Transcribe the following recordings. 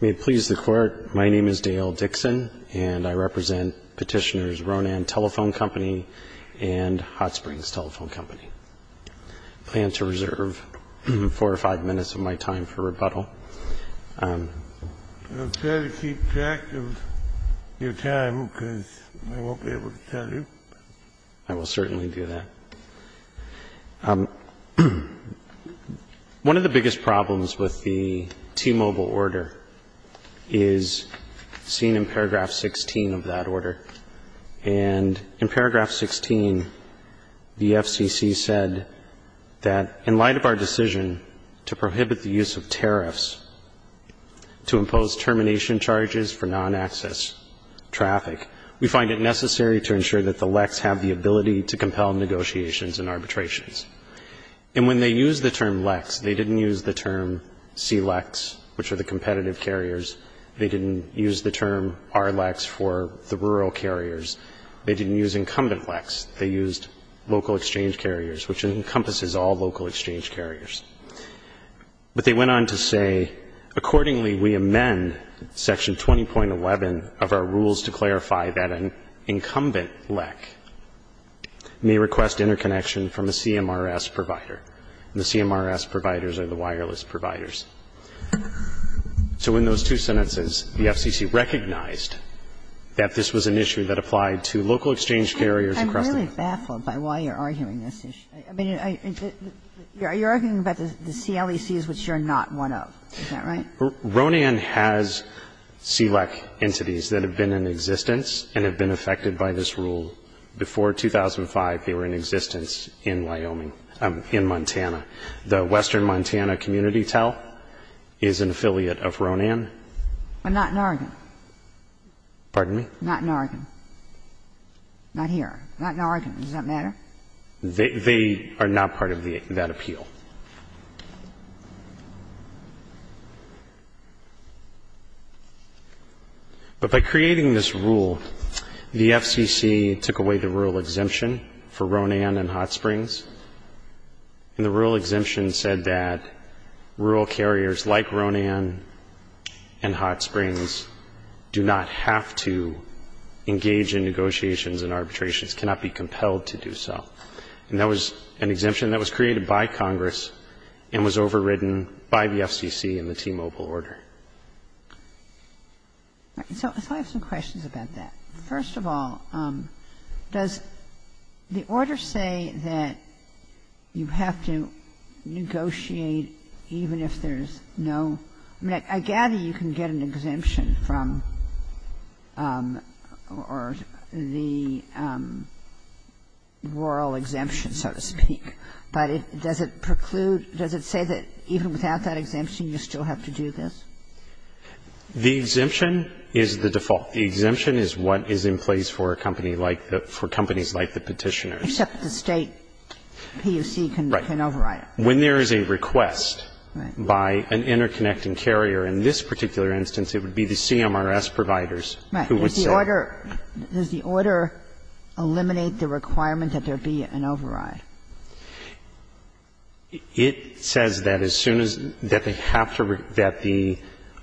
May it please the Court, my name is Dale Dixon, and I represent Petitioners Ronan Telephone Company and Hot Springs Telephone Company. I plan to reserve four or five minutes of my time for rebuttal. I'll try to keep track of your time, because I won't be able to tell you. I will certainly do that. One of the biggest problems with the T-Mobile order is seen in paragraph 16 of that order. And in paragraph 16, the FCC said that in light of our decision to prohibit the use of tariffs to impose termination charges for non-access traffic, we find it necessary to ensure that the LECs have the ability to compel negotiations and arbitrations. And when they used the term LECs, they didn't use the term CLECs, which are the competitive carriers. They didn't use the term RLECs for the rural carriers. They didn't use incumbent LECs. They used local exchange carriers, which encompasses all local exchange carriers. But they went on to say, Accordingly, we amend section 20.11 of our rules to clarify that an incumbent LEC may request interconnection from a CMRS provider. And the CMRS providers are the wireless providers. So in those two sentences, the FCC recognized that this was an issue that applied to local exchange carriers across the country. Kagan, I'm baffled by why you're arguing this issue. I mean, you're arguing about the CLECs, which you're not one of. Is that right? Ronan has CLEC entities that have been in existence and have been affected by this rule. Before 2005, they were in existence in Wyoming, in Montana. The Western Montana Community TEL is an affiliate of Ronan. But not in Oregon. Pardon me? Not in Oregon. Not here. Not in Oregon. Does that matter? They are not part of that appeal. But by creating this rule, the FCC took away the rural exemption for Ronan and Hot Springs, and the rural exemption said that rural carriers like Ronan and Hot Springs do not have to engage in negotiations and arbitrations, cannot be compelled to do so. And that was an exemption that was created by Congress and was overridden by the FCC in the T-Mobile order. All right. So I have some questions about that. First of all, does the order say that you have to negotiate even if there's no ‑‑ I mean, I gather you can get an exemption from ‑‑ or the rural exemption, so to speak. But does it preclude ‑‑ does it say that even without that exemption, you still have to do this? The exemption is the default. The exemption is what is in place for a company like the ‑‑ for companies like the Petitioners. Except the State POC can override it. Right. When there is a request by an interconnecting carrier, in this particular instance, it would be the CMRS providers who would say ‑‑ Right. Does the order eliminate the requirement that there be an override? It says that as soon as ‑‑ that they have to ‑‑ that the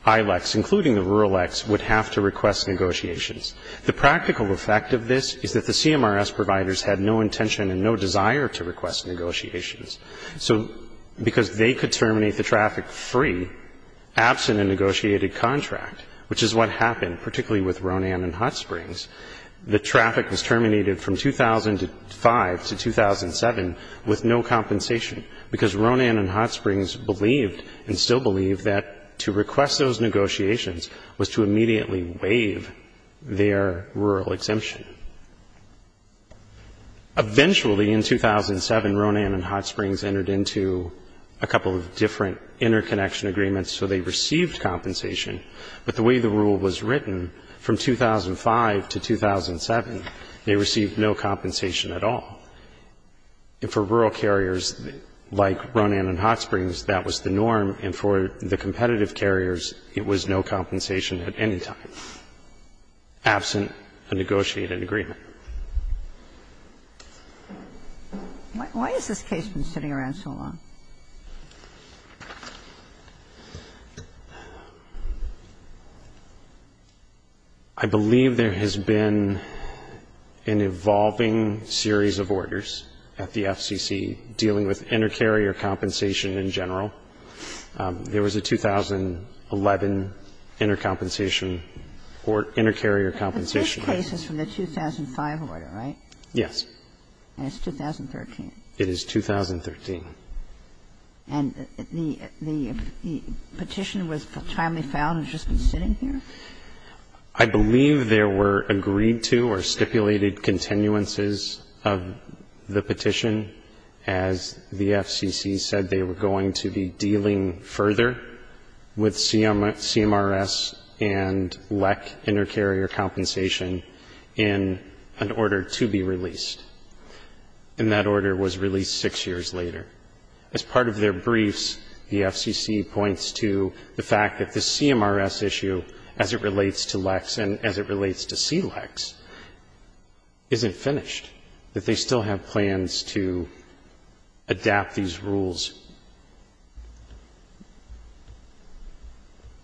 ILEX, including the rural EX, would have to request negotiations. The practical effect of this is that the CMRS providers had no intention and no desire to request negotiations. So because they could terminate the traffic free, absent a negotiated contract, which is what happened, particularly with Ronan and Hot Springs, the traffic was terminated from 2005 to 2007 with no compensation, because Ronan and Hot Springs believed and still believe that to request those negotiations was to immediately waive their rural exemption. Eventually, in 2007, Ronan and Hot Springs entered into a couple of different interconnection agreements, so they received compensation. But the way the rule was written, from 2005 to 2007, they received no compensation at all. And for rural carriers like Ronan and Hot Springs, that was the norm, and for the competitive carriers, it was no compensation at any time, absent a negotiated agreement. Why has this case been sitting around so long? I believe there has been an evolving series of orders at the FCC dealing with intercarrier compensation in general. There was a 2011 intercompensation or intercarrier compensation. This case is from the 2005 order, right? Yes. And it's 2013. It is 2013. And the petition was timely found and has just been sitting here? I believe there were agreed to or stipulated continuances of the petition, as the FCC said they were going to be dealing further with CMRS and LEC intercarrier compensation in an order to be released. And that order was released six years later. As part of their briefs, the FCC points to the fact that the CMRS issue, as it relates to LECs and as it relates to CLECs, isn't finished, that they still have plans to adapt these rules.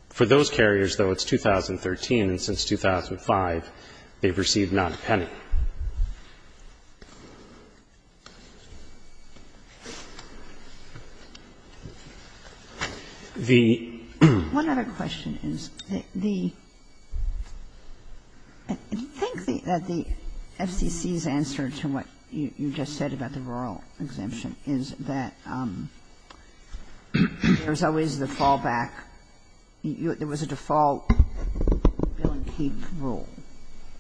For those carriers, though, it's 2013, and since 2005 they've received not a penny. The ---- One other question is, the ---- I think that the FCC's answer to what you just said about the rural exemption is that there's always the fallback. There was a default bill-and-keep rule.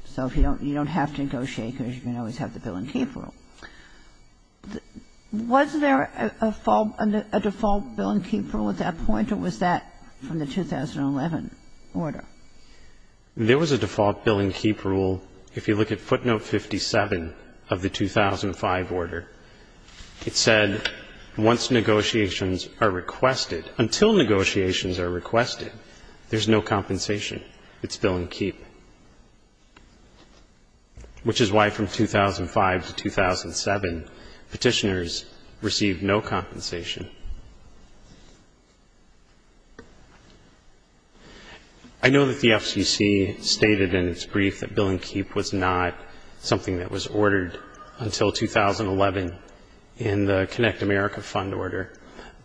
So you don't have to negotiate because you can always have the bill-and-keep rule. Was there a default bill-and-keep rule at that point, or was that from the 2011 order? There was a default bill-and-keep rule. If you look at footnote 57 of the 2005 order, it said once negotiations are requested ---- until negotiations are requested, there's no compensation. It's bill-and-keep, which is why from 2005 to 2007, Petitioners received no compensation. I know that the FCC stated in its brief that bill-and-keep was not something that was ordered until 2011 in the Connect America fund order,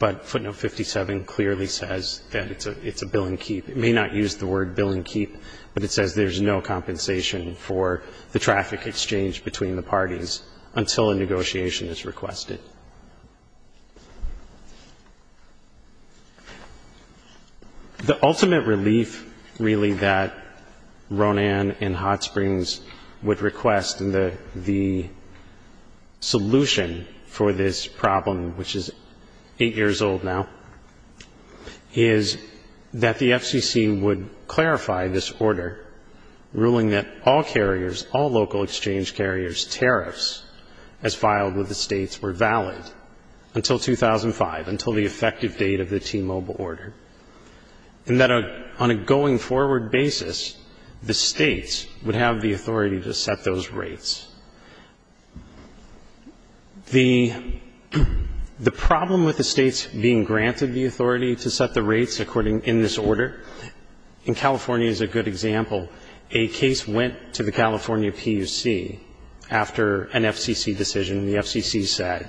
but footnote 57 clearly says that it's a bill-and-keep. It may not use the word bill-and-keep, but it says there's no compensation for the traffic exchange between the parties until a negotiation is requested. The ultimate relief, really, that Ronan and Hot Springs would request in the solution for this problem, which is eight years old now, is that the FCC would clarify this order, ruling that all carriers, all local exchange carriers' tariffs as filed with the until 2005, until the effective date of the T-Mobile order, and that on a going forward basis, the States would have the authority to set those rates. The problem with the States being granted the authority to set the rates according in this order, in California as a good example, a case went to the California PUC after an FCC decision, and the FCC said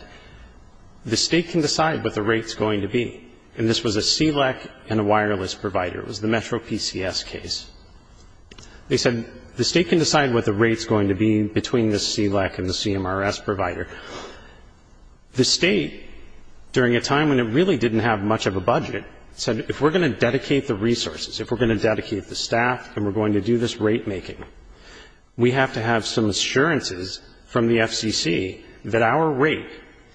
the State can decide what the rate's going to be. And this was a CLEC and a wireless provider. It was the Metro PCS case. They said the State can decide what the rate's going to be between the CLEC and the CMRS provider. The State, during a time when it really didn't have much of a budget, said if we're going to dedicate the resources, if we're going to dedicate the staff and we're going to do this rate-making, we have to have some assurances from the FCC that our rate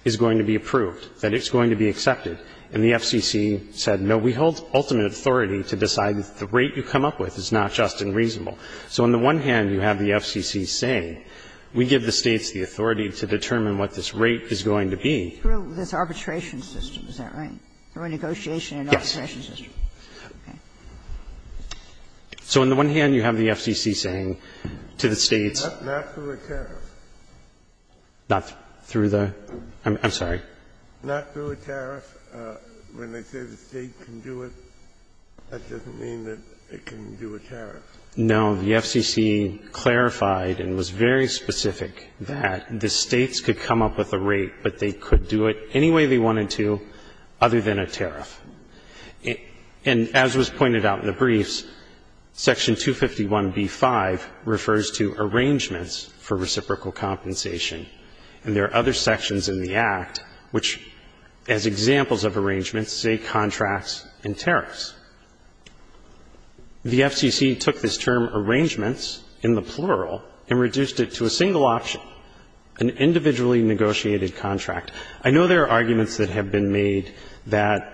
is going to be approved, that it's going to be accepted. And the FCC said, no, we hold ultimate authority to decide the rate you come up with is not just and reasonable. So on the one hand, you have the FCC saying, we give the States the authority to determine what this rate is going to be. Through this arbitration system, is that right? Through a negotiation and arbitration system? Yes. Okay. So on the one hand, you have the FCC saying to the States. Not through a tariff. Not through the? I'm sorry. Not through a tariff. When they say the State can do it, that doesn't mean that it can do a tariff. No. The FCC clarified and was very specific that the States could come up with a rate, but they could do it any way they wanted to other than a tariff. And as was pointed out in the briefs, Section 251b-5 refers to arrangements for reciprocal compensation. And there are other sections in the Act which, as examples of arrangements, say contracts and tariffs. The FCC took this term arrangements in the plural and reduced it to a single option, an individually negotiated contract. I know there are arguments that have been made that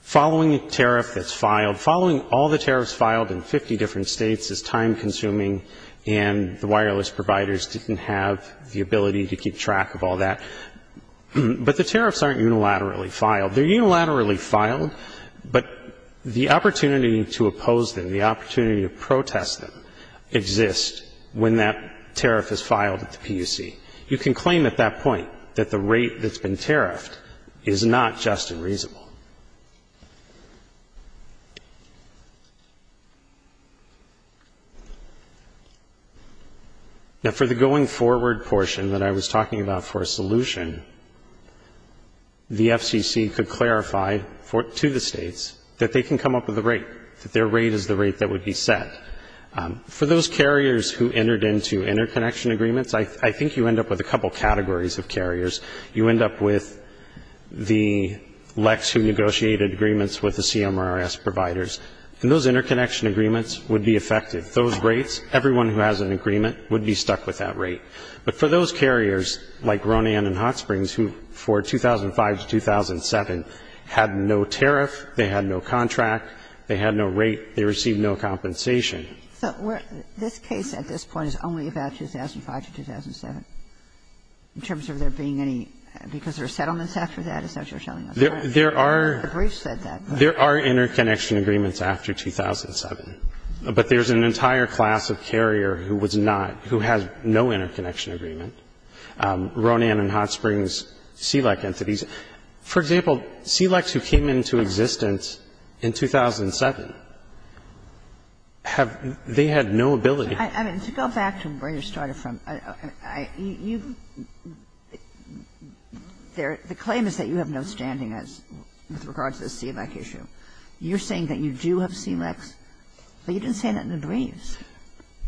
following a tariff that's filed, following all the tariffs filed in 50 different States is time-consuming and the wireless providers didn't have the ability to keep track of all that. But the tariffs aren't unilaterally filed. They're unilaterally filed, but the opportunity to oppose them, the opportunity to protest them, exists when that tariff is filed at the PUC. You can claim at that point that the rate that's been tariffed is not just unreasonable. Now, for the going forward portion that I was talking about for a solution, the FCC could clarify to the States that they can come up with a rate, that their rate is the rate that would be set. For those carriers who entered into interconnection agreements, I think you end up with a couple categories of carriers. You end up with the LECs who negotiated agreements with the CMRS providers, and those interconnection agreements would be affected. Those rates, everyone who has an agreement would be stuck with that rate. But for those carriers, like Ronan and Hot Springs, who for 2005 to 2007 had no tariff, they had no contract, they had no rate, they received no compensation. So where this case at this point is only about 2005 to 2007, in terms of there being any, because there are settlements after that, is that what you're telling us? There are. The brief said that. There are interconnection agreements after 2007. But there's an entire class of carrier who was not, who has no interconnection agreement. Ronan and Hot Springs, CLEC entities. For example, CLECs who came into existence in 2007 have, they had no ability. I mean, to go back to where you started from, you've, there, the claim is that you have no standing as, with regards to the CLEC issue. You're saying that you do have CLECs, but you didn't say that in the briefs.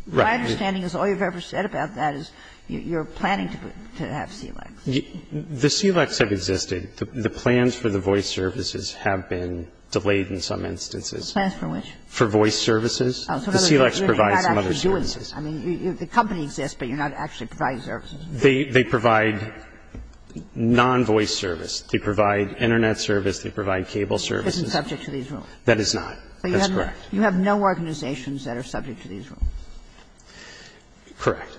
Right. My understanding is all you've ever said about that is you're planning to have CLECs. The CLECs have existed. The plans for the voice services have been delayed in some instances. Plans for which? For voice services. The CLECs provide some other services. I mean, the company exists, but you're not actually providing services. They provide non-voice service. They provide Internet service. They provide cable service. It isn't subject to these rules. That is not. That's correct. You have no organizations that are subject to these rules. Correct.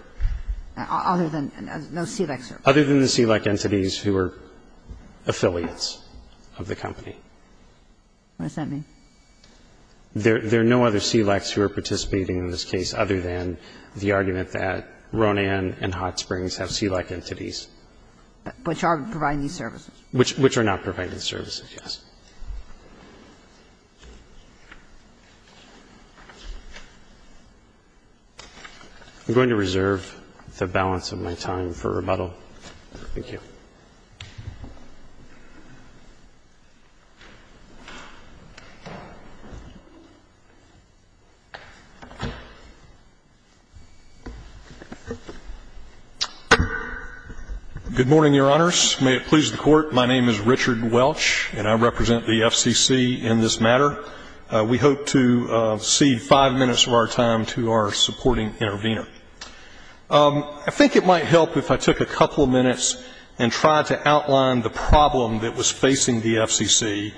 Other than, no CLEC services. Other than the CLEC entities who are affiliates of the company. What does that mean? There are no other CLECs who are participating in this case other than the argument that Ronan and Hot Springs have CLEC entities. Which are providing these services. Which are not providing services, yes. I'm going to reserve the balance of my time for rebuttal. Thank you. Good morning, Your Honors. May it please the Court. My name is Richard Welch, and I represent the FCC in this matter. We hope to cede five minutes of our time to our supporting intervener. I think it might help if I took a couple of minutes and tried to outline the problem that was facing the FCC,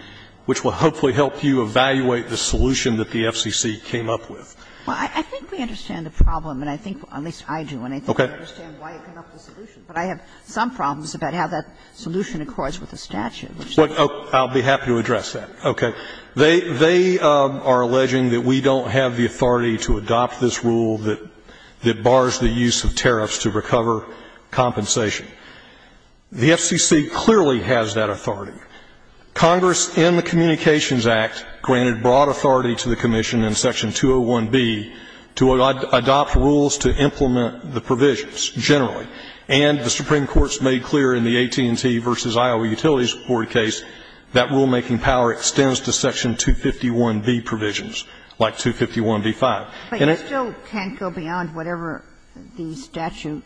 which will hopefully help you evaluate the solution that the FCC came up with. Well, I think we understand the problem, and I think, at least I do, and I think we understand why it came up with the solution. But I have some problems about how that solution accords with the statute. I'll be happy to address that. Okay. Well, they are alleging that we don't have the authority to adopt this rule that bars the use of tariffs to recover compensation. The FCC clearly has that authority. Congress in the Communications Act granted broad authority to the Commission in Section 201B to adopt rules to implement the provisions generally. And the Supreme Court has made clear in the AT&T v. Iowa Utilities Board case that rulemaking power extends to Section 251B provisions, like 251B-5. And it's not going to go beyond whatever the statute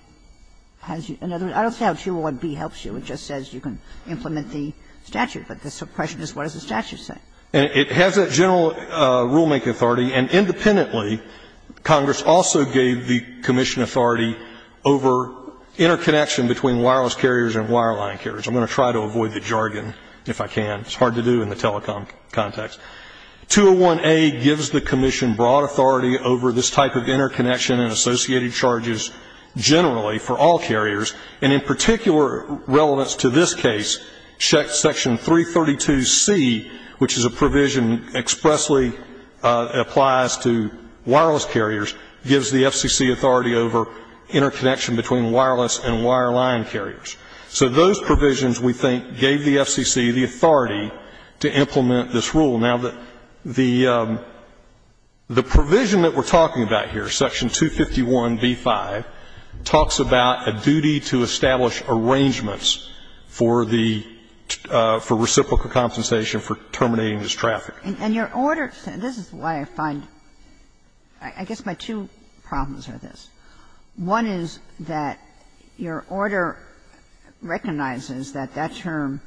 has. In other words, I don't see how 201B helps you. It just says you can implement the statute. But the question is what does the statute say? And it has that general rulemaking authority. And independently, Congress also gave the Commission authority over interconnection between wireless carriers and wireline carriers. I'm going to try to avoid the jargon, if I can. It's hard to do in the telecom context. 201A gives the Commission broad authority over this type of interconnection and associated charges generally for all carriers. And in particular relevance to this case, Section 332C, which is a provision expressly applies to wireless carriers, gives the FCC authority over interconnection between wireless and wireline carriers. So those provisions, we think, gave the FCC the authority to implement this rule. Now, the provision that we're talking about here, Section 251B-5, talks about a duty to establish arrangements for the – for reciprocal compensation for terminating this traffic. And your order – this is why I find – I guess my two problems are this. One is that your order recognizes that that term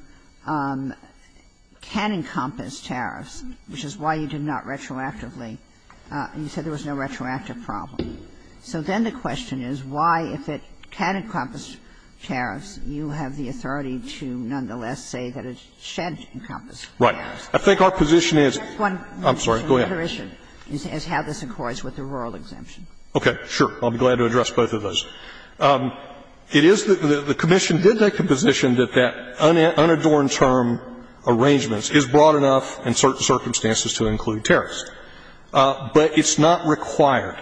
can encompass tariffs, which is why you did not retroactively – you said there was no retroactive problem. So then the question is why, if it can encompass tariffs, you have the authority to nonetheless say that it should encompass tariffs. I think our position is – I'm sorry, go ahead. The other issue is how this accords with the rural exemption. Okay. Sure. I'll be glad to address both of those. It is – the Commission did make the position that that unadorned term arrangements is broad enough in certain circumstances to include tariffs. But it's not required.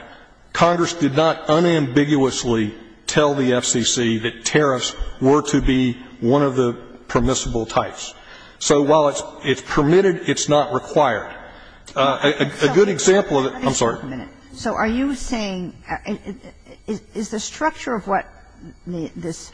Congress did not unambiguously tell the FCC that tariffs were to be one of the permissible types. So while it's permitted, it's not required. A good example of the – I'm sorry. So are you saying – is the structure of what this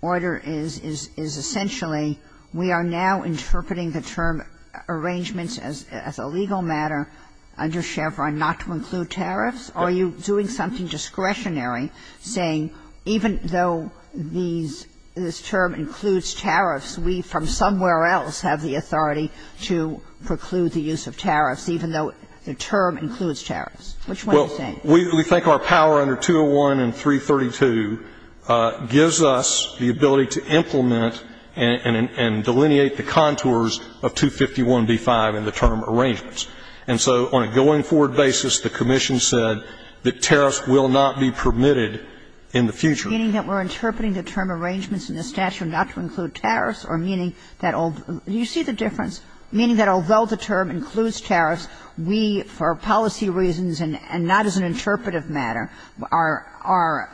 order is, is essentially we are now interpreting the term arrangements as a legal matter under Chevron, not to include tariffs? Are you doing something discretionary, saying even though these – this term includes tariffs, we from somewhere else have the authority to preclude the use of tariffs, even though the term includes tariffs? Which one are you saying? Well, we think our power under 201 and 332 gives us the ability to implement and delineate the contours of 251b-5 in the term arrangements. And so on a going-forward basis, the Commission said that tariffs will not be permitted in the future. Meaning that we're interpreting the term arrangements in the statute not to include tariffs, or meaning that – do you see the difference? Meaning that although the term includes tariffs, we, for policy reasons and not as an interpretive matter, are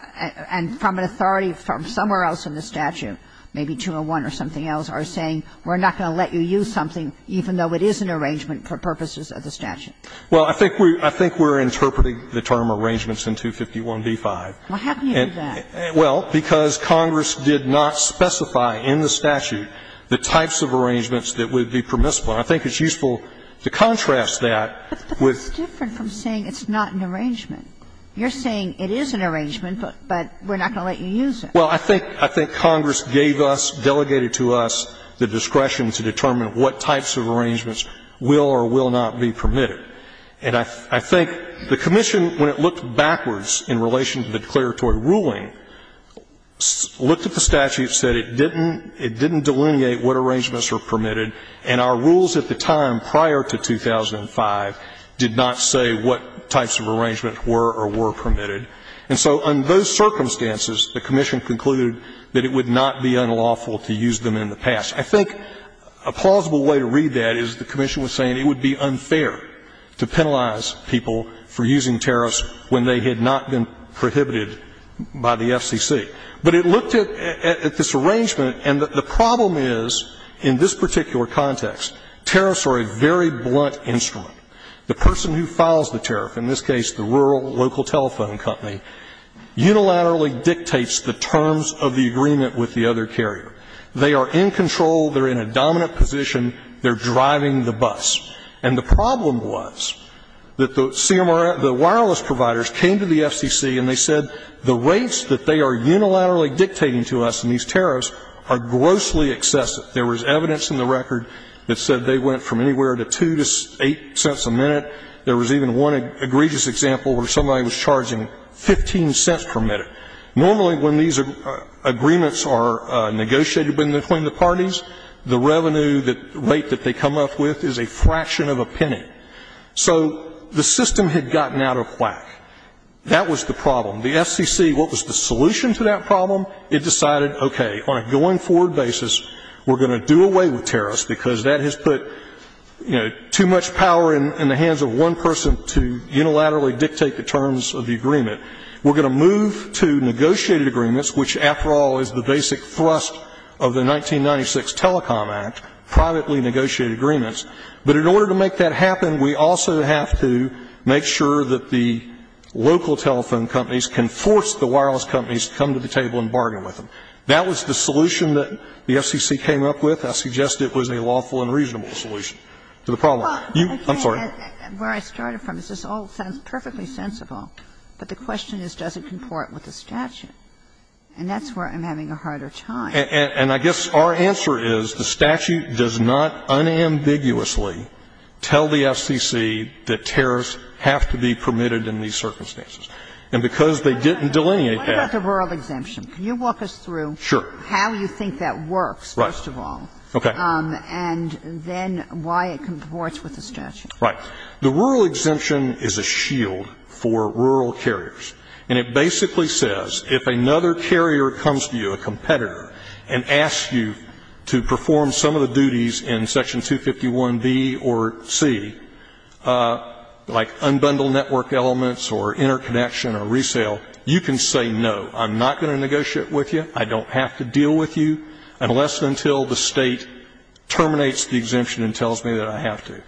– and from an authority from somewhere else in the statute, maybe 201 or something else, are saying we're not going to let you use something even though it is an arrangement for purposes of the statute. Well, I think we're interpreting the term arrangements in 251b-5. Why haven't you done that? Well, because Congress did not specify in the statute the types of arrangements that would be permissible. And I think it's useful to contrast that with the statute that would be permissible. But that's different from saying it's not an arrangement. You're saying it is an arrangement, but we're not going to let you use it. Well, I think – I think Congress gave us, delegated to us the discretion to determine what types of arrangements will or will not be permitted. And I think the Commission, when it looked backwards in relation to the declaratory ruling, looked at the statute, said it didn't – it didn't delineate what arrangements were permitted, and our rules at the time, prior to 2005, did not say what types of arrangement were or were permitted. And so in those circumstances, the Commission concluded that it would not be unlawful to use them in the past. I think a plausible way to read that is the Commission was saying it would be unfair to penalize people for using tariffs when they had not been prohibited by the FCC. But it looked at this arrangement, and the problem is, in this particular context, tariffs are a very blunt instrument. The person who files the tariff, in this case the rural local telephone company, unilaterally dictates the terms of the agreement with the other carrier. They are in control. They're in a dominant position. They're driving the bus. And the problem was that the wireless providers came to the FCC and they said the rates that they are unilaterally dictating to us in these tariffs are grossly excessive. There was evidence in the record that said they went from anywhere to $0.02 to $0.08 a minute. There was even one egregious example where somebody was charging $0.15 per minute. Normally, when these agreements are negotiated between the parties, the revenue that – rate that they come up with is a fraction of a penny. So the system had gotten out of whack. That was the problem. The FCC, what was the solution to that problem? It decided, okay, on a going forward basis, we're going to do away with tariffs, because that has put, you know, too much power in the hands of one person to unilaterally dictate the terms of the agreement. We're going to move to negotiated agreements, which, after all, is the basic thrust of the 1996 Telecom Act, privately negotiated agreements. But in order to make that happen, we also have to make sure that the local telephone companies can force the wireless companies to come to the table and bargain with them. That was the solution that the FCC came up with. I suggest it was a lawful and reasonable solution to the problem. You – I'm sorry. Well, again, where I started from, this all sounds perfectly sensible, but the question is, does it comport with the statute? And that's where I'm having a harder time. And I guess our answer is the statute does not unambiguously tell the FCC that tariffs have to be permitted in these circumstances. And because they didn't delineate that – What about the rural exemption? Can you walk us through how you think that works, first of all, and then why it comports with the statute? Right. The rural exemption is a shield for rural carriers. And it basically says, if another carrier comes to you, a competitor, and asks you to perform some of the duties in Section 251B or C, like unbundle network elements or interconnection or resale, you can say no. I'm not going to negotiate with you. I don't have to deal with you, unless and until the State terminates the exemption and tells me that I have to.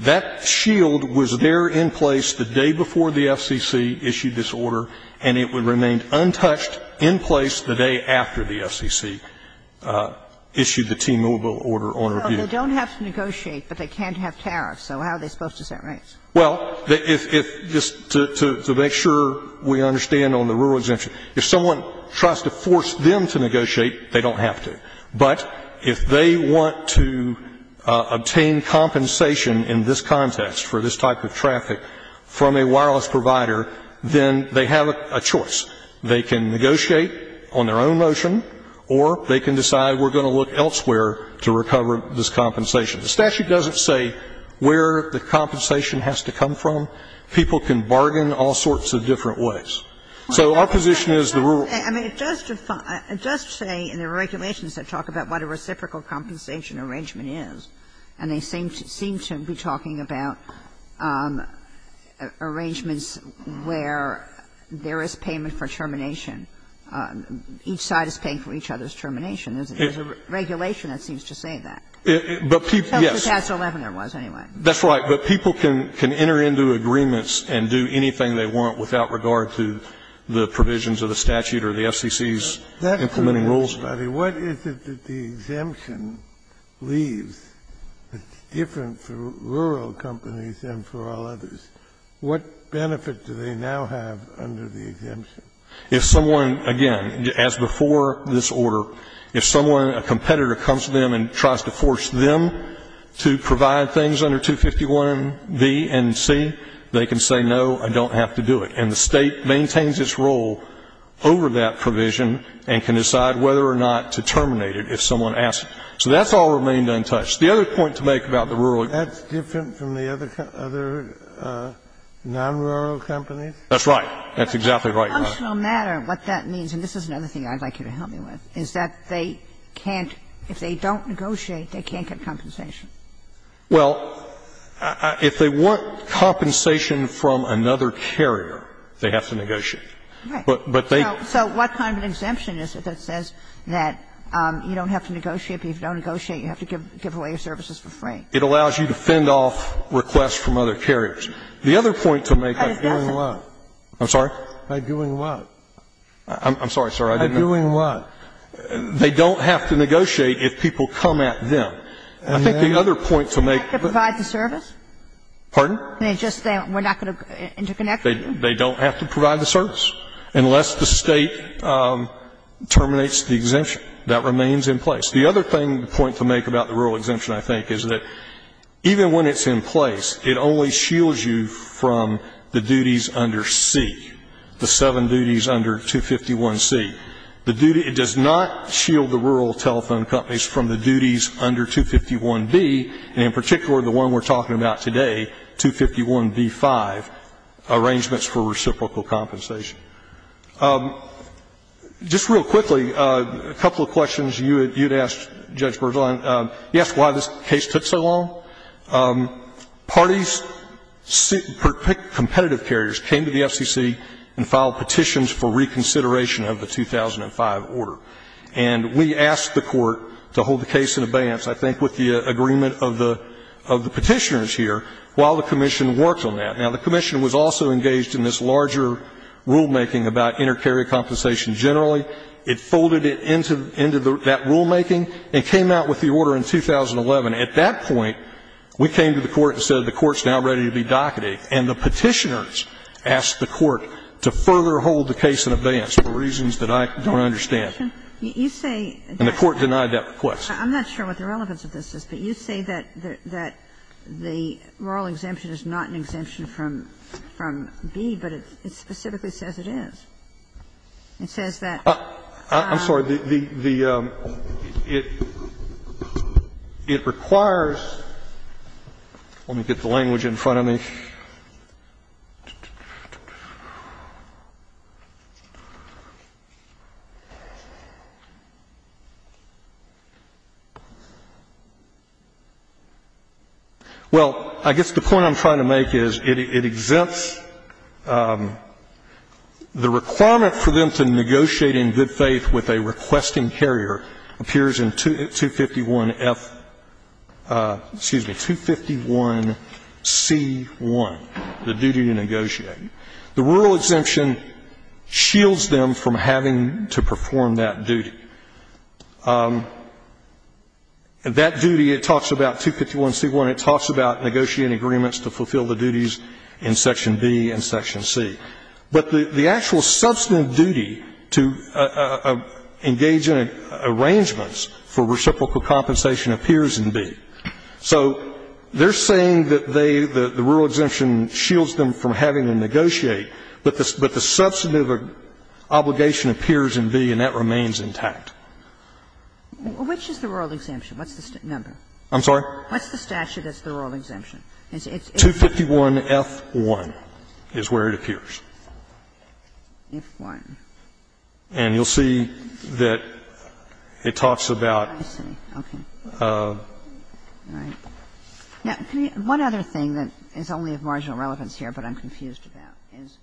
That shield was there in place the day before the FCC issued this order, and it remained untouched in place the day after the FCC issued the T-Mobile order on review. So they don't have to negotiate, but they can't have tariffs, so how are they supposed to set rates? Well, if — just to make sure we understand on the rural exemption, if someone tries to force them to negotiate, they don't have to. But if they want to obtain compensation in this context for this type of traffic from a wireless provider, then they have a choice. They can negotiate on their own motion, or they can decide we're going to look elsewhere to recover this compensation. The statute doesn't say where the compensation has to come from. People can bargain all sorts of different ways. So our position is the rural exemption is the best way to go. I mean, it does define — it does say in the regulations that talk about what a reciprocal compensation arrangement is, and they seem to be talking about arrangements where there is payment for termination. Each side is paying for each other's termination. There's a regulation that seems to say that. But people — yes. But that's what CAST 11 there was, anyway. That's right. But people can enter into agreements and do anything they want without regard to the provisions of the statute or the FCC's implementing rules. That's a good question, Buddy. What is it that the exemption leaves that's different for rural companies than for all others? What benefit do they now have under the exemption? If someone, again, as before this order, if someone, a competitor comes to them and tries to force them to provide things under 251B and C, they can say, no, I don't have to do it. And the State maintains its role over that provision and can decide whether or not to terminate it if someone asks. So that's all remained untouched. The other point to make about the rural exemption is that it's different from the other other non-rural companies. That's right. That's exactly right. But as a functional matter, what that means, and this is another thing I'd like you to help me with, is that they can't, if they don't negotiate, they can't get compensation. Well, if they want compensation from another carrier, they have to negotiate. Right. So what kind of an exemption is it that says that you don't have to negotiate, but if you don't negotiate, you have to give away your services for free? It allows you to fend off requests from other carriers. The other point to make is by doing what? I'm sorry? By doing what? I'm sorry, sir. By doing what? They don't have to negotiate if people come at them. I think the other point to make is that they don't have to provide the service unless the State terminates the exemption. That remains in place. The other thing, the point to make about the rural exemption, I think, is that even when it's in place, it only shields you from the duties under C, the seven duties under 251C. The duty, it does not shield the rural telephone companies from the duties under 251B, and in particular, the one we're talking about today, 251B-5, arrangements for reciprocal compensation. Just real quickly, a couple of questions you had asked, Judge Bergeron. You asked why this case took so long. Parties, competitive carriers, came to the FCC and filed petitions for the exemption for reconsideration of the 2005 order, and we asked the Court to hold the case in abeyance, I think with the agreement of the Petitioners here, while the Commission worked on that. Now, the Commission was also engaged in this larger rulemaking about inter-carrier compensation generally. It folded it into that rulemaking and came out with the order in 2011. At that point, we came to the Court and said the Court's now ready to be docketed, and the Petitioners asked the Court to further hold the case in abeyance for reasons that I don't understand. And the Court denied that request. I'm not sure what the relevance of this is, but you say that the rural exemption is not an exemption from B, but it specifically says it is. It says that it's not a rural exemption. I'm sorry, the – it requires – let me get the language in front of me. Well, I guess the point I'm trying to make is it exempts the requirement for them to negotiate in good faith with a requesting carrier appears in 251F – excuse me, 251C1. The duty to negotiate. The rural exemption shields them from having to perform that duty. That duty, it talks about 251C1, it talks about negotiating agreements to fulfill the duties in Section B and Section C. But the actual substantive duty to engage in arrangements for reciprocal compensation appears in B. So they're saying that they – the rural exemption shields them from having to negotiate, but the substantive obligation appears in B and that remains intact. Which is the rural exemption? What's the number? I'm sorry? What's the statute that's the rural exemption? 251F1 is where it appears. F1. And you'll see that it talks about – I see. Okay. All right. Now, can we – one other thing that is only of marginal relevance here but I'm confused about is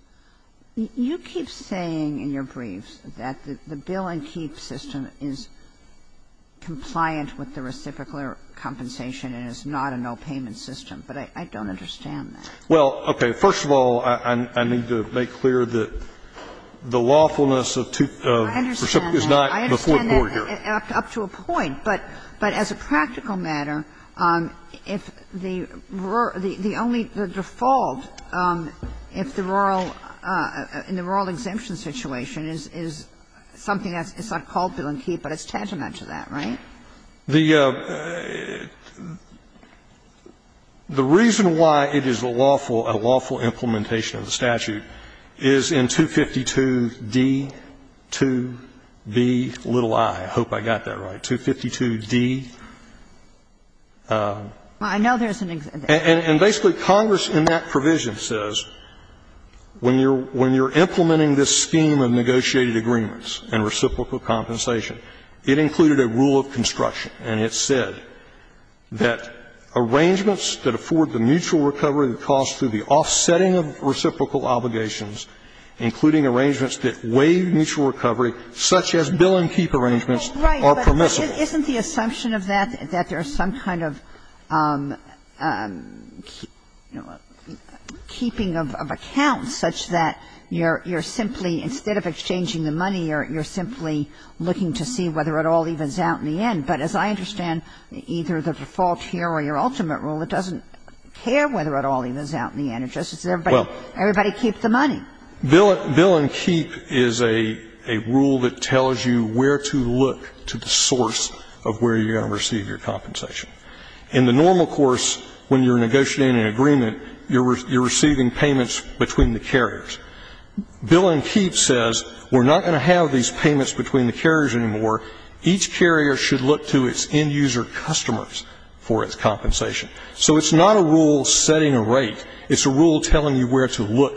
you keep saying in your briefs that the bill-and-keep system is compliant with the reciprocal compensation and is not a no-payment system, but I don't understand that. Well, okay. First of all, I need to make clear that the lawfulness of reciprocal is not before court here. I understand that, up to a point. But as a practical matter, if the only – the default if the rural – in the rural exemption situation is something that's not called bill-and-keep, but it's tantamount to that, right? The reason why it is a lawful – a lawful implementation of the statute is in 252D2Bi. I hope I got that right. 252D. I know there's an – And basically Congress in that provision says when you're implementing this scheme of negotiated agreements and reciprocal compensation, it included a rule of construction, and it said that arrangements that afford the mutual recovery of the cost through the offsetting of reciprocal obligations, including arrangements that waive mutual recovery, such as bill-and-keep arrangements, are permissible. Well, right, but isn't the assumption of that that there's some kind of, you know, keeping of accounts such that you're simply – instead of exchanging the money, you're simply looking to see whether it all evens out in the end? But as I understand, either the default here or your ultimate rule, it doesn't care whether it all evens out in the end. It just says everybody keep the money. Well, bill-and-keep is a rule that tells you where to look to the source of where you're going to receive your compensation. In the normal course, when you're negotiating an agreement, you're receiving payments between the carriers. Bill-and-keep says we're not going to have these payments between the carriers anymore. Each carrier should look to its end-user customers for its compensation. So it's not a rule setting a rate. It's a rule telling you where to look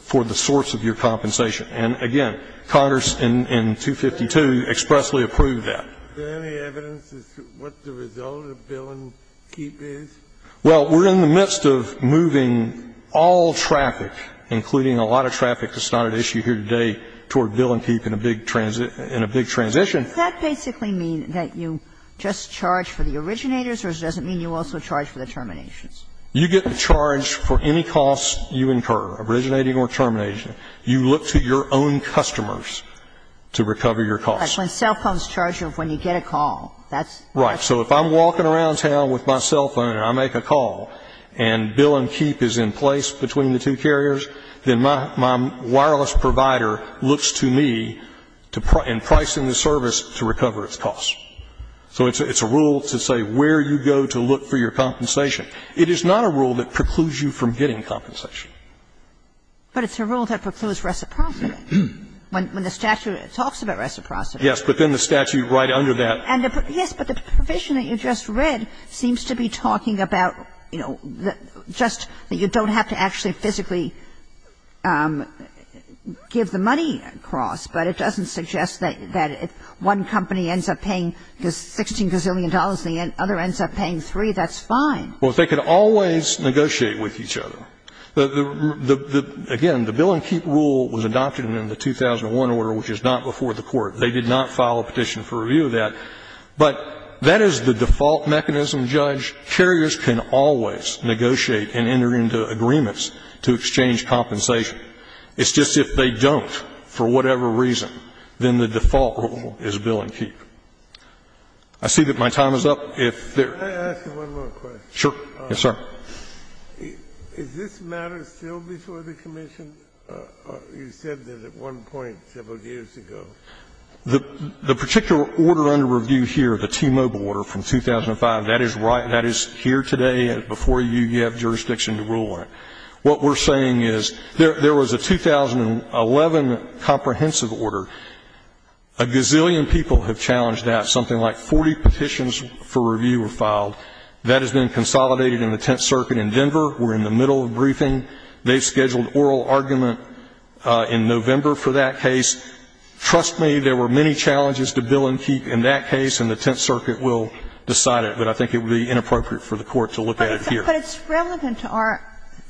for the source of your compensation. And, again, Congress in 252 expressly approved that. There any evidence as to what the result of bill-and-keep is? Well, we're in the midst of moving all traffic, including a lot of traffic that's not at issue here today, toward bill-and-keep in a big transit – in a big transition. Does that basically mean that you just charge for the originators, or does it mean you also charge for the terminations? You get the charge for any costs you incur, originating or termination. You look to your own customers to recover your costs. But when cell phones charge you when you get a call, that's – Right. So if I'm walking around town with my cell phone and I make a call and bill-and-keep is in place between the two carriers, then my wireless provider looks to me in pricing the service to recover its costs. So it's a rule to say where you go to look for your compensation. It is not a rule that precludes you from getting compensation. But it's a rule that precludes reciprocity. When the statute talks about reciprocity. Yes, but then the statute right under that – Yes, but the provision that you just read seems to be talking about, you know, just that you don't have to actually physically give the money across, but it doesn't suggest that if one company ends up paying $16 gazillion and the other ends up paying 3, that's fine. Well, if they could always negotiate with each other. The – again, the bill-and-keep rule was adopted in the 2001 order, which is not before the Court. They did not file a petition for review of that. But that is the default mechanism, Judge. Carriers can always negotiate and enter into agreements to exchange compensation. It's just if they don't for whatever reason, then the default rule is bill-and-keep. I see that my time is up. If there – Can I ask you one more question? Yes, sir. Is this matter still before the Commission? You said that at one point several years ago. The particular order under review here, the T-Mobile order from 2005, that is right – that is here today before you. You have jurisdiction to rule on it. What we're saying is there was a 2011 comprehensive order. A gazillion people have challenged that. Something like 40 petitions for review were filed. That has been consolidated in the Tenth Circuit in Denver. We're in the middle of briefing. They've scheduled oral argument in November for that case. Trust me, there were many challenges to bill-and-keep in that case, and the Tenth Circuit will decide it. But I think it would be inappropriate for the Court to look at it here. But it's relevant to our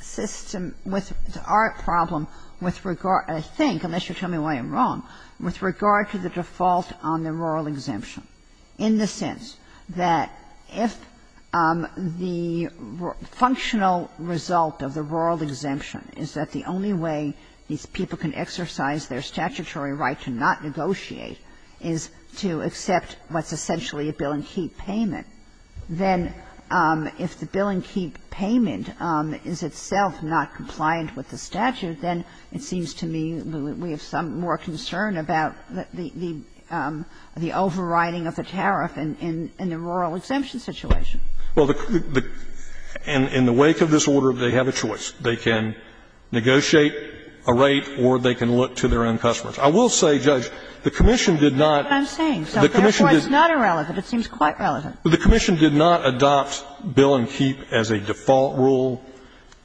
system with – to our problem with regard – I think, unless you tell me why I'm wrong – with regard to the default on the rural exemption, in the sense that if the functional result of the rural exemption is that the only way these people can exercise their statutory right to not negotiate is to accept what's essentially a bill-and-keep payment, then if the bill-and-keep payment is itself not compliant with the statute, then it seems to me we have some more concern about the overriding of the tariff in the rural exemption situation. Well, the – in the wake of this order, they have a choice. They can negotiate a rate or they can look to their own customers. I will say, Judge, the commission did not – That's what I'm saying. So therefore, it's not irrelevant. It seems quite relevant. The commission did not adopt bill-and-keep as a default rule.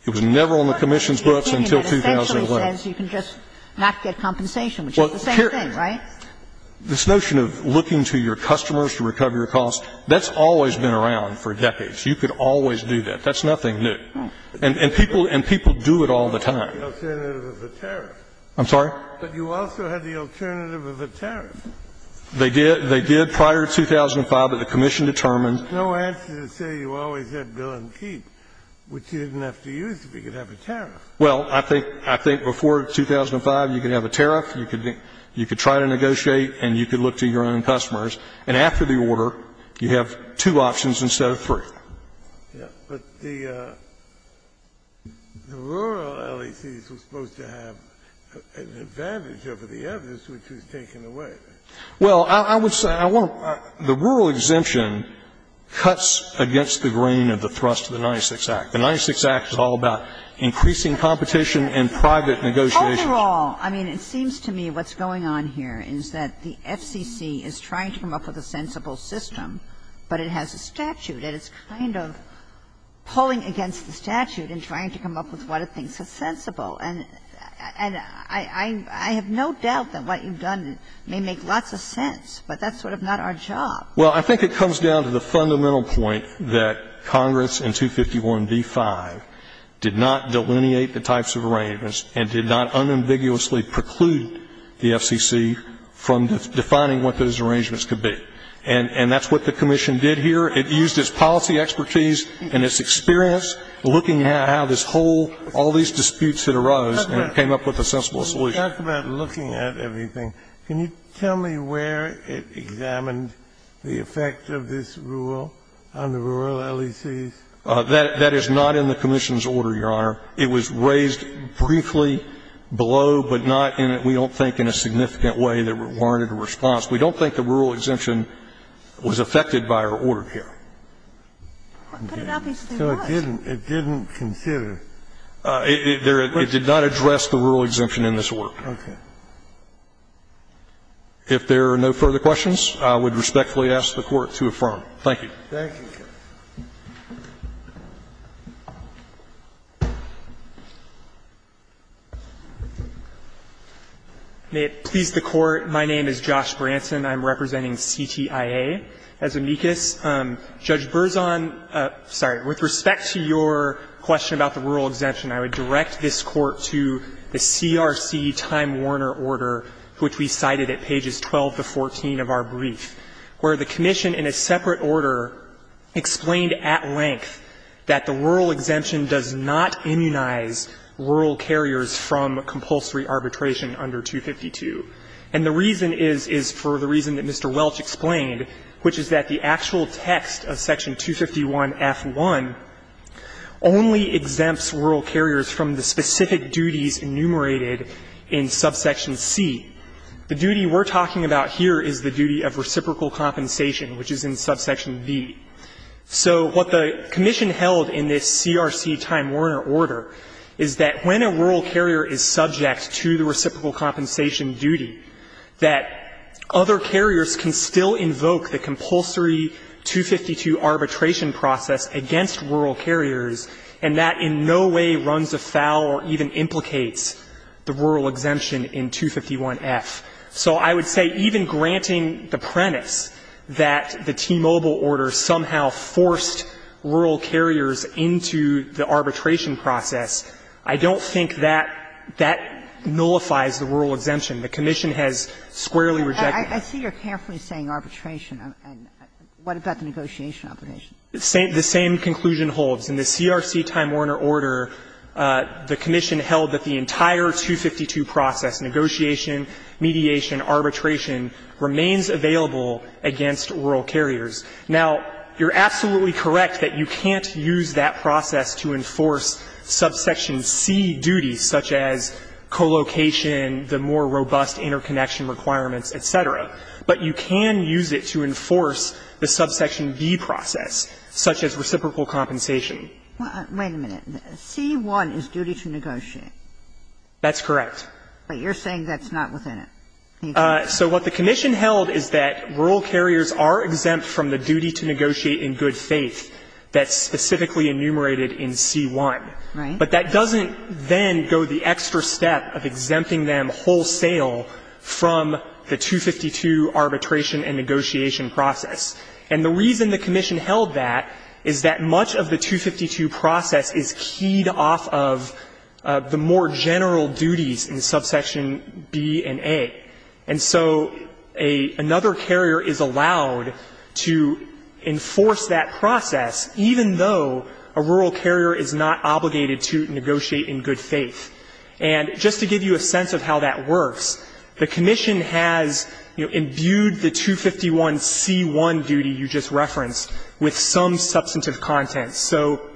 It was never on the commission's books until 2011. Well, the question is, if you're looking to your customers to recover your costs, the rule says you can just not get compensation, which is the same thing, right? Well, this notion of looking to your customers to recover your costs, that's always been around for decades. You could always do that. That's nothing new. And people do it all the time. You also had the alternative of a tariff. I'm sorry? But you also had the alternative of a tariff. They did prior to 2005, but the commission determined – There's no answer to say you always had bill-and-keep, which you didn't have to use if you could have a tariff. Well, I think before 2005, you could have a tariff. You could try to negotiate and you could look to your own customers. And after the order, you have two options instead of three. But the rural LECs were supposed to have an advantage over the others, which was taken away. Well, I would say I want to – the rural exemption cuts against the grain of the thrust of the 96 Act. The 96 Act is all about increasing competition in private negotiations. Overall, I mean, it seems to me what's going on here is that the FCC is trying to come up with a sensible system, but it has a statute, and it's kind of pulling against the statute in trying to come up with what it thinks is sensible. And I have no doubt that what you've done may make lots of sense, but that's sort of not our job. Well, I think it comes down to the fundamental point that Congress in 251b-5 did not delineate the types of arrangements and did not unambiguously preclude the FCC from defining what those arrangements could be. And that's what the commission did here. It used its policy expertise and its experience looking at how this whole – all these disputes that arose, and it came up with a sensible solution. When you talk about looking at everything, can you tell me where it examined the effect of this rule on the rural LECs? That is not in the commission's order, Your Honor. It was raised briefly below, but not in a – we don't think in a significant way that it warranted a response. We don't think the rural exemption was affected by our order here. But it obviously was. So it didn't consider? It did not address the rural exemption in this work. Okay. If there are no further questions, I would respectfully ask the Court to affirm. Thank you. Thank you, counsel. May it please the Court, my name is Josh Branson. I'm representing CTIA as amicus. Judge Berzon, sorry, with respect to your question about the rural exemption, I would direct this Court to the CRC Time Warner order, which we cited at pages 12 to 14 of our brief, where the commission in a separate order explained at length that the rural exemption does not immunize rural carriers from compulsory arbitration under 252. And the reason is, is for the reason that Mr. Welch explained, which is that the actual text of section 251F1 only exempts rural carriers from the specific duties enumerated in subsection C. The duty we're talking about here is the duty of reciprocal compensation, which is in subsection V. So what the commission held in this CRC Time Warner order is that when a rural carrier is subject to the reciprocal compensation duty, that other carriers can still invoke the compulsory 252 arbitration process against rural carriers, and that in no way runs afoul or even implicates the rural exemption in 251F. So I would say even granting the premise that the T-Mobile order somehow forced rural carriers into the arbitration process, I don't think that that nullifies the rural exemption. The commission has squarely rejected that. Sotomayor, I see you're carefully saying arbitration. What about the negotiation obligation? The same conclusion holds. In the CRC Time Warner order, the commission held that the entire 252 process, negotiation, mediation, arbitration, remains available against rural carriers. Now, you're absolutely correct that you can't use that process to enforce subsection C duties, such as co-location, the more robust interconnection requirements, et cetera. But you can use it to enforce the subsection B process, such as reciprocal compensation. Wait a minute. C-1 is duty to negotiate. That's correct. But you're saying that's not within it. So what the commission held is that rural carriers are exempt from the duty to negotiate in good faith that's specifically enumerated in C-1. But that doesn't then go the extra step of exempting them wholesale from the 252 arbitration and negotiation process. And the reason the commission held that is that much of the 252 process is keyed in the more general duties in subsection B and A. And so another carrier is allowed to enforce that process, even though a rural carrier is not obligated to negotiate in good faith. And just to give you a sense of how that works, the commission has, you know, imbued the 251 C-1 duty you just referenced with some substantive content. So,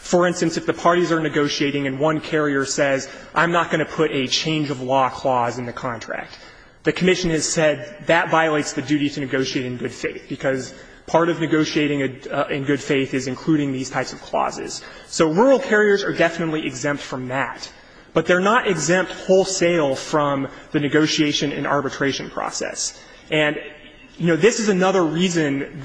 for instance, if the parties are negotiating and one carrier says, I'm not going to put a change-of-law clause in the contract, the commission has said, that violates the duty to negotiate in good faith, because part of negotiating in good faith is including these types of clauses. So rural carriers are definitely exempt from that. But they're not exempt wholesale from the negotiation and arbitration process. And, you know, this is another reason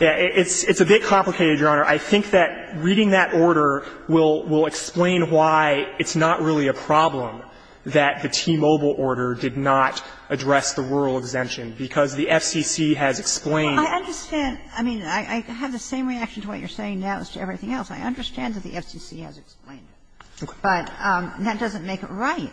that it's a bit complicated, Your Honor. I think that reading that order will explain why it's not really a problem that the T-Mobile order did not address the rural exemption, because the FCC has explained that. Kagan. I understand. I mean, I have the same reaction to what you're saying now as to everything else. I understand that the FCC has explained it, but that doesn't make it right.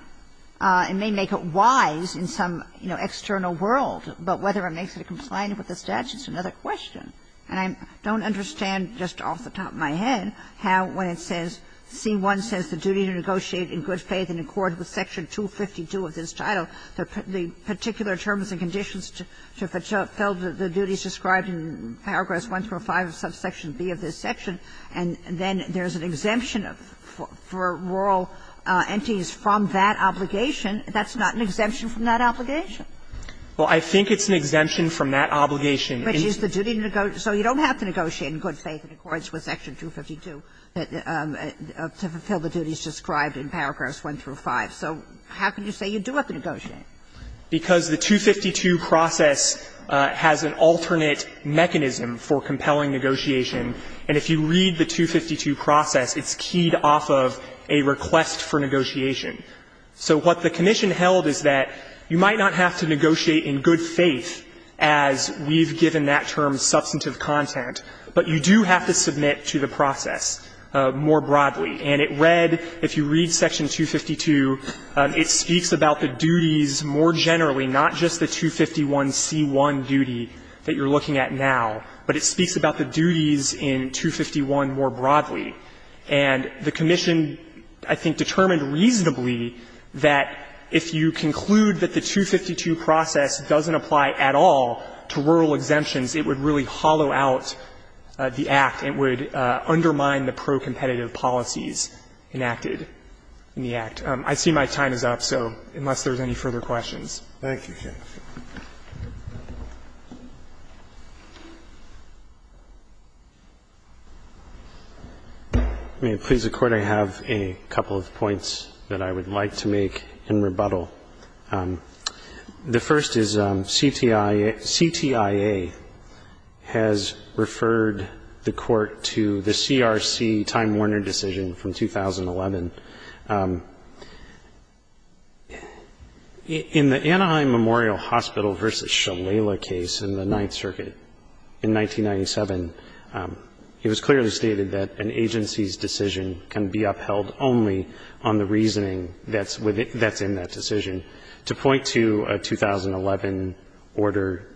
It may make it wise in some, you know, external world, but whether it makes it compliant with the statute is another question. And I don't understand, just off the top of my head, how, when it says, C-1 says the duty to negotiate in good faith in accord with Section 252 of this title, the particular terms and conditions to fulfill the duties described in Paragraphs 1 through 5 of Subsection B of this section, and then there's an exemption for rural entities from that obligation. That's not an exemption from that obligation. Well, I think it's an exemption from that obligation. Which is the duty to negotiate. So you don't have to negotiate in good faith in accordance with Section 252 to fulfill the duties described in Paragraphs 1 through 5. So how can you say you do have to negotiate? Because the 252 process has an alternate mechanism for compelling negotiation. And if you read the 252 process, it's keyed off of a request for negotiation. So what the commission held is that you might not have to negotiate in good faith as we've given that term, substantive content, but you do have to submit to the process more broadly. And it read, if you read Section 252, it speaks about the duties more generally, not just the 251C1 duty that you're looking at now, but it speaks about the duties in 251 more broadly. And the commission, I think, determined reasonably that if you conclude that the 252 process doesn't apply at all to rural exemptions, it would really hollow out the Act. It would undermine the pro-competitive policies enacted in the Act. I see my time is up, so unless there's any further questions. Thank you, Your Honor. May it please the Court, I have a couple of points that I would like to make in rebuttal. The first is CTIA has referred the Court to the CRC time-warner decision from 2011. In the Anaheim Memorial Hospital v. Shalala case in the Ninth Circuit in 1997, it was clearly stated that an agency's decision can be upheld only on the reasoning that's in that decision. To point to a 2011 order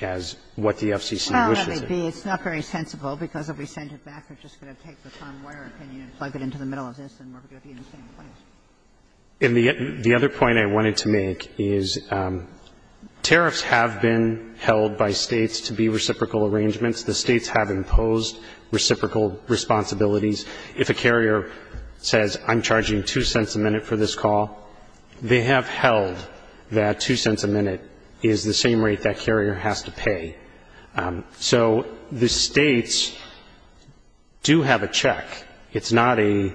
as what the FCC wishes it. It's not very sensible because if we send it back, we're just going to take the time-warner opinion and plug it into the middle of this and we're going to be in the same place. And the other point I wanted to make is tariffs have been held by States to be reciprocal arrangements. The States have imposed reciprocal responsibilities. If a carrier says, I'm charging two cents a minute for this call, they have held that two cents a minute is the same rate that carrier has to pay. So the States do have a check. It's not a,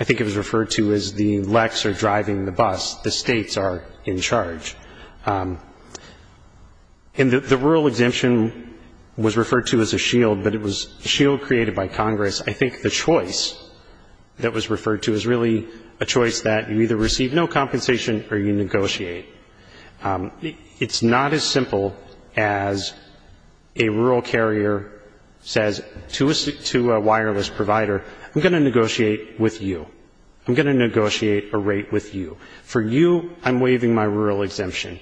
I think it was referred to as the lex or driving the bus. The States are in charge. And the rural exemption was referred to as a shield, but it was a shield created by Congress. I think the choice that was referred to is really a choice that you either receive no compensation or you negotiate. It's not as simple as a rural carrier says to a wireless provider, I'm going to negotiate with you. I'm going to negotiate a rate with you. For you, I'm waiving my rural exemption.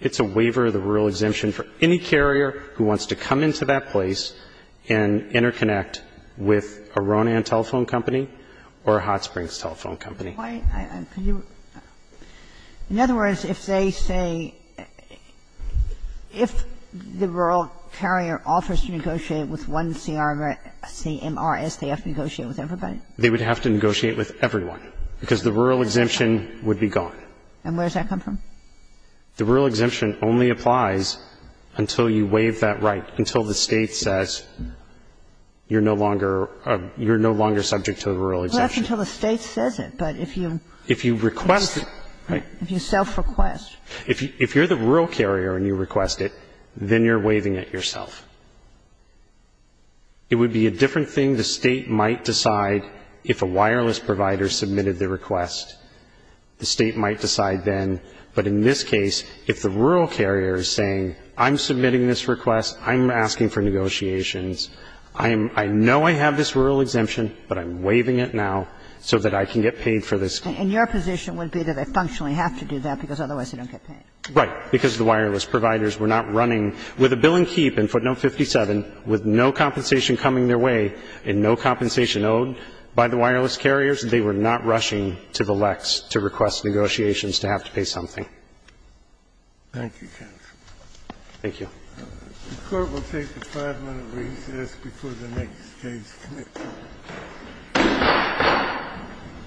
It's a waiver of the rural exemption for any carrier who wants to come into that place and interconnect with a Ronan telephone company or a Hot Springs telephone company. Ginsburg. In other words, if they say, if the rural carrier offers to negotiate with one CMRS, they have to negotiate with everybody? They would have to negotiate with everyone, because the rural exemption would be gone. And where does that come from? The rural exemption only applies until you waive that right, until the State says you're no longer, you're no longer subject to the rural exemption. Well, that's until the State says it, but if you. If you request it. Right. If you self-request. If you're the rural carrier and you request it, then you're waiving it yourself. It would be a different thing. The State might decide if a wireless provider submitted the request. The State might decide then. But in this case, if the rural carrier is saying, I'm submitting this request, I'm asking for negotiations, I'm, I know I have this rural exemption, but I'm waiving it now so that I can get paid for this. And your position would be that they functionally have to do that, because otherwise they don't get paid. Right. Because the wireless providers were not running. With a bill and keep in footnote 57, with no compensation coming their way and no compensation owed by the wireless carriers, they were not rushing to the lex to request negotiations to have to pay something. Thank you, counsel. Thank you. The Court will take a five-minute recess before the next case. Thank you.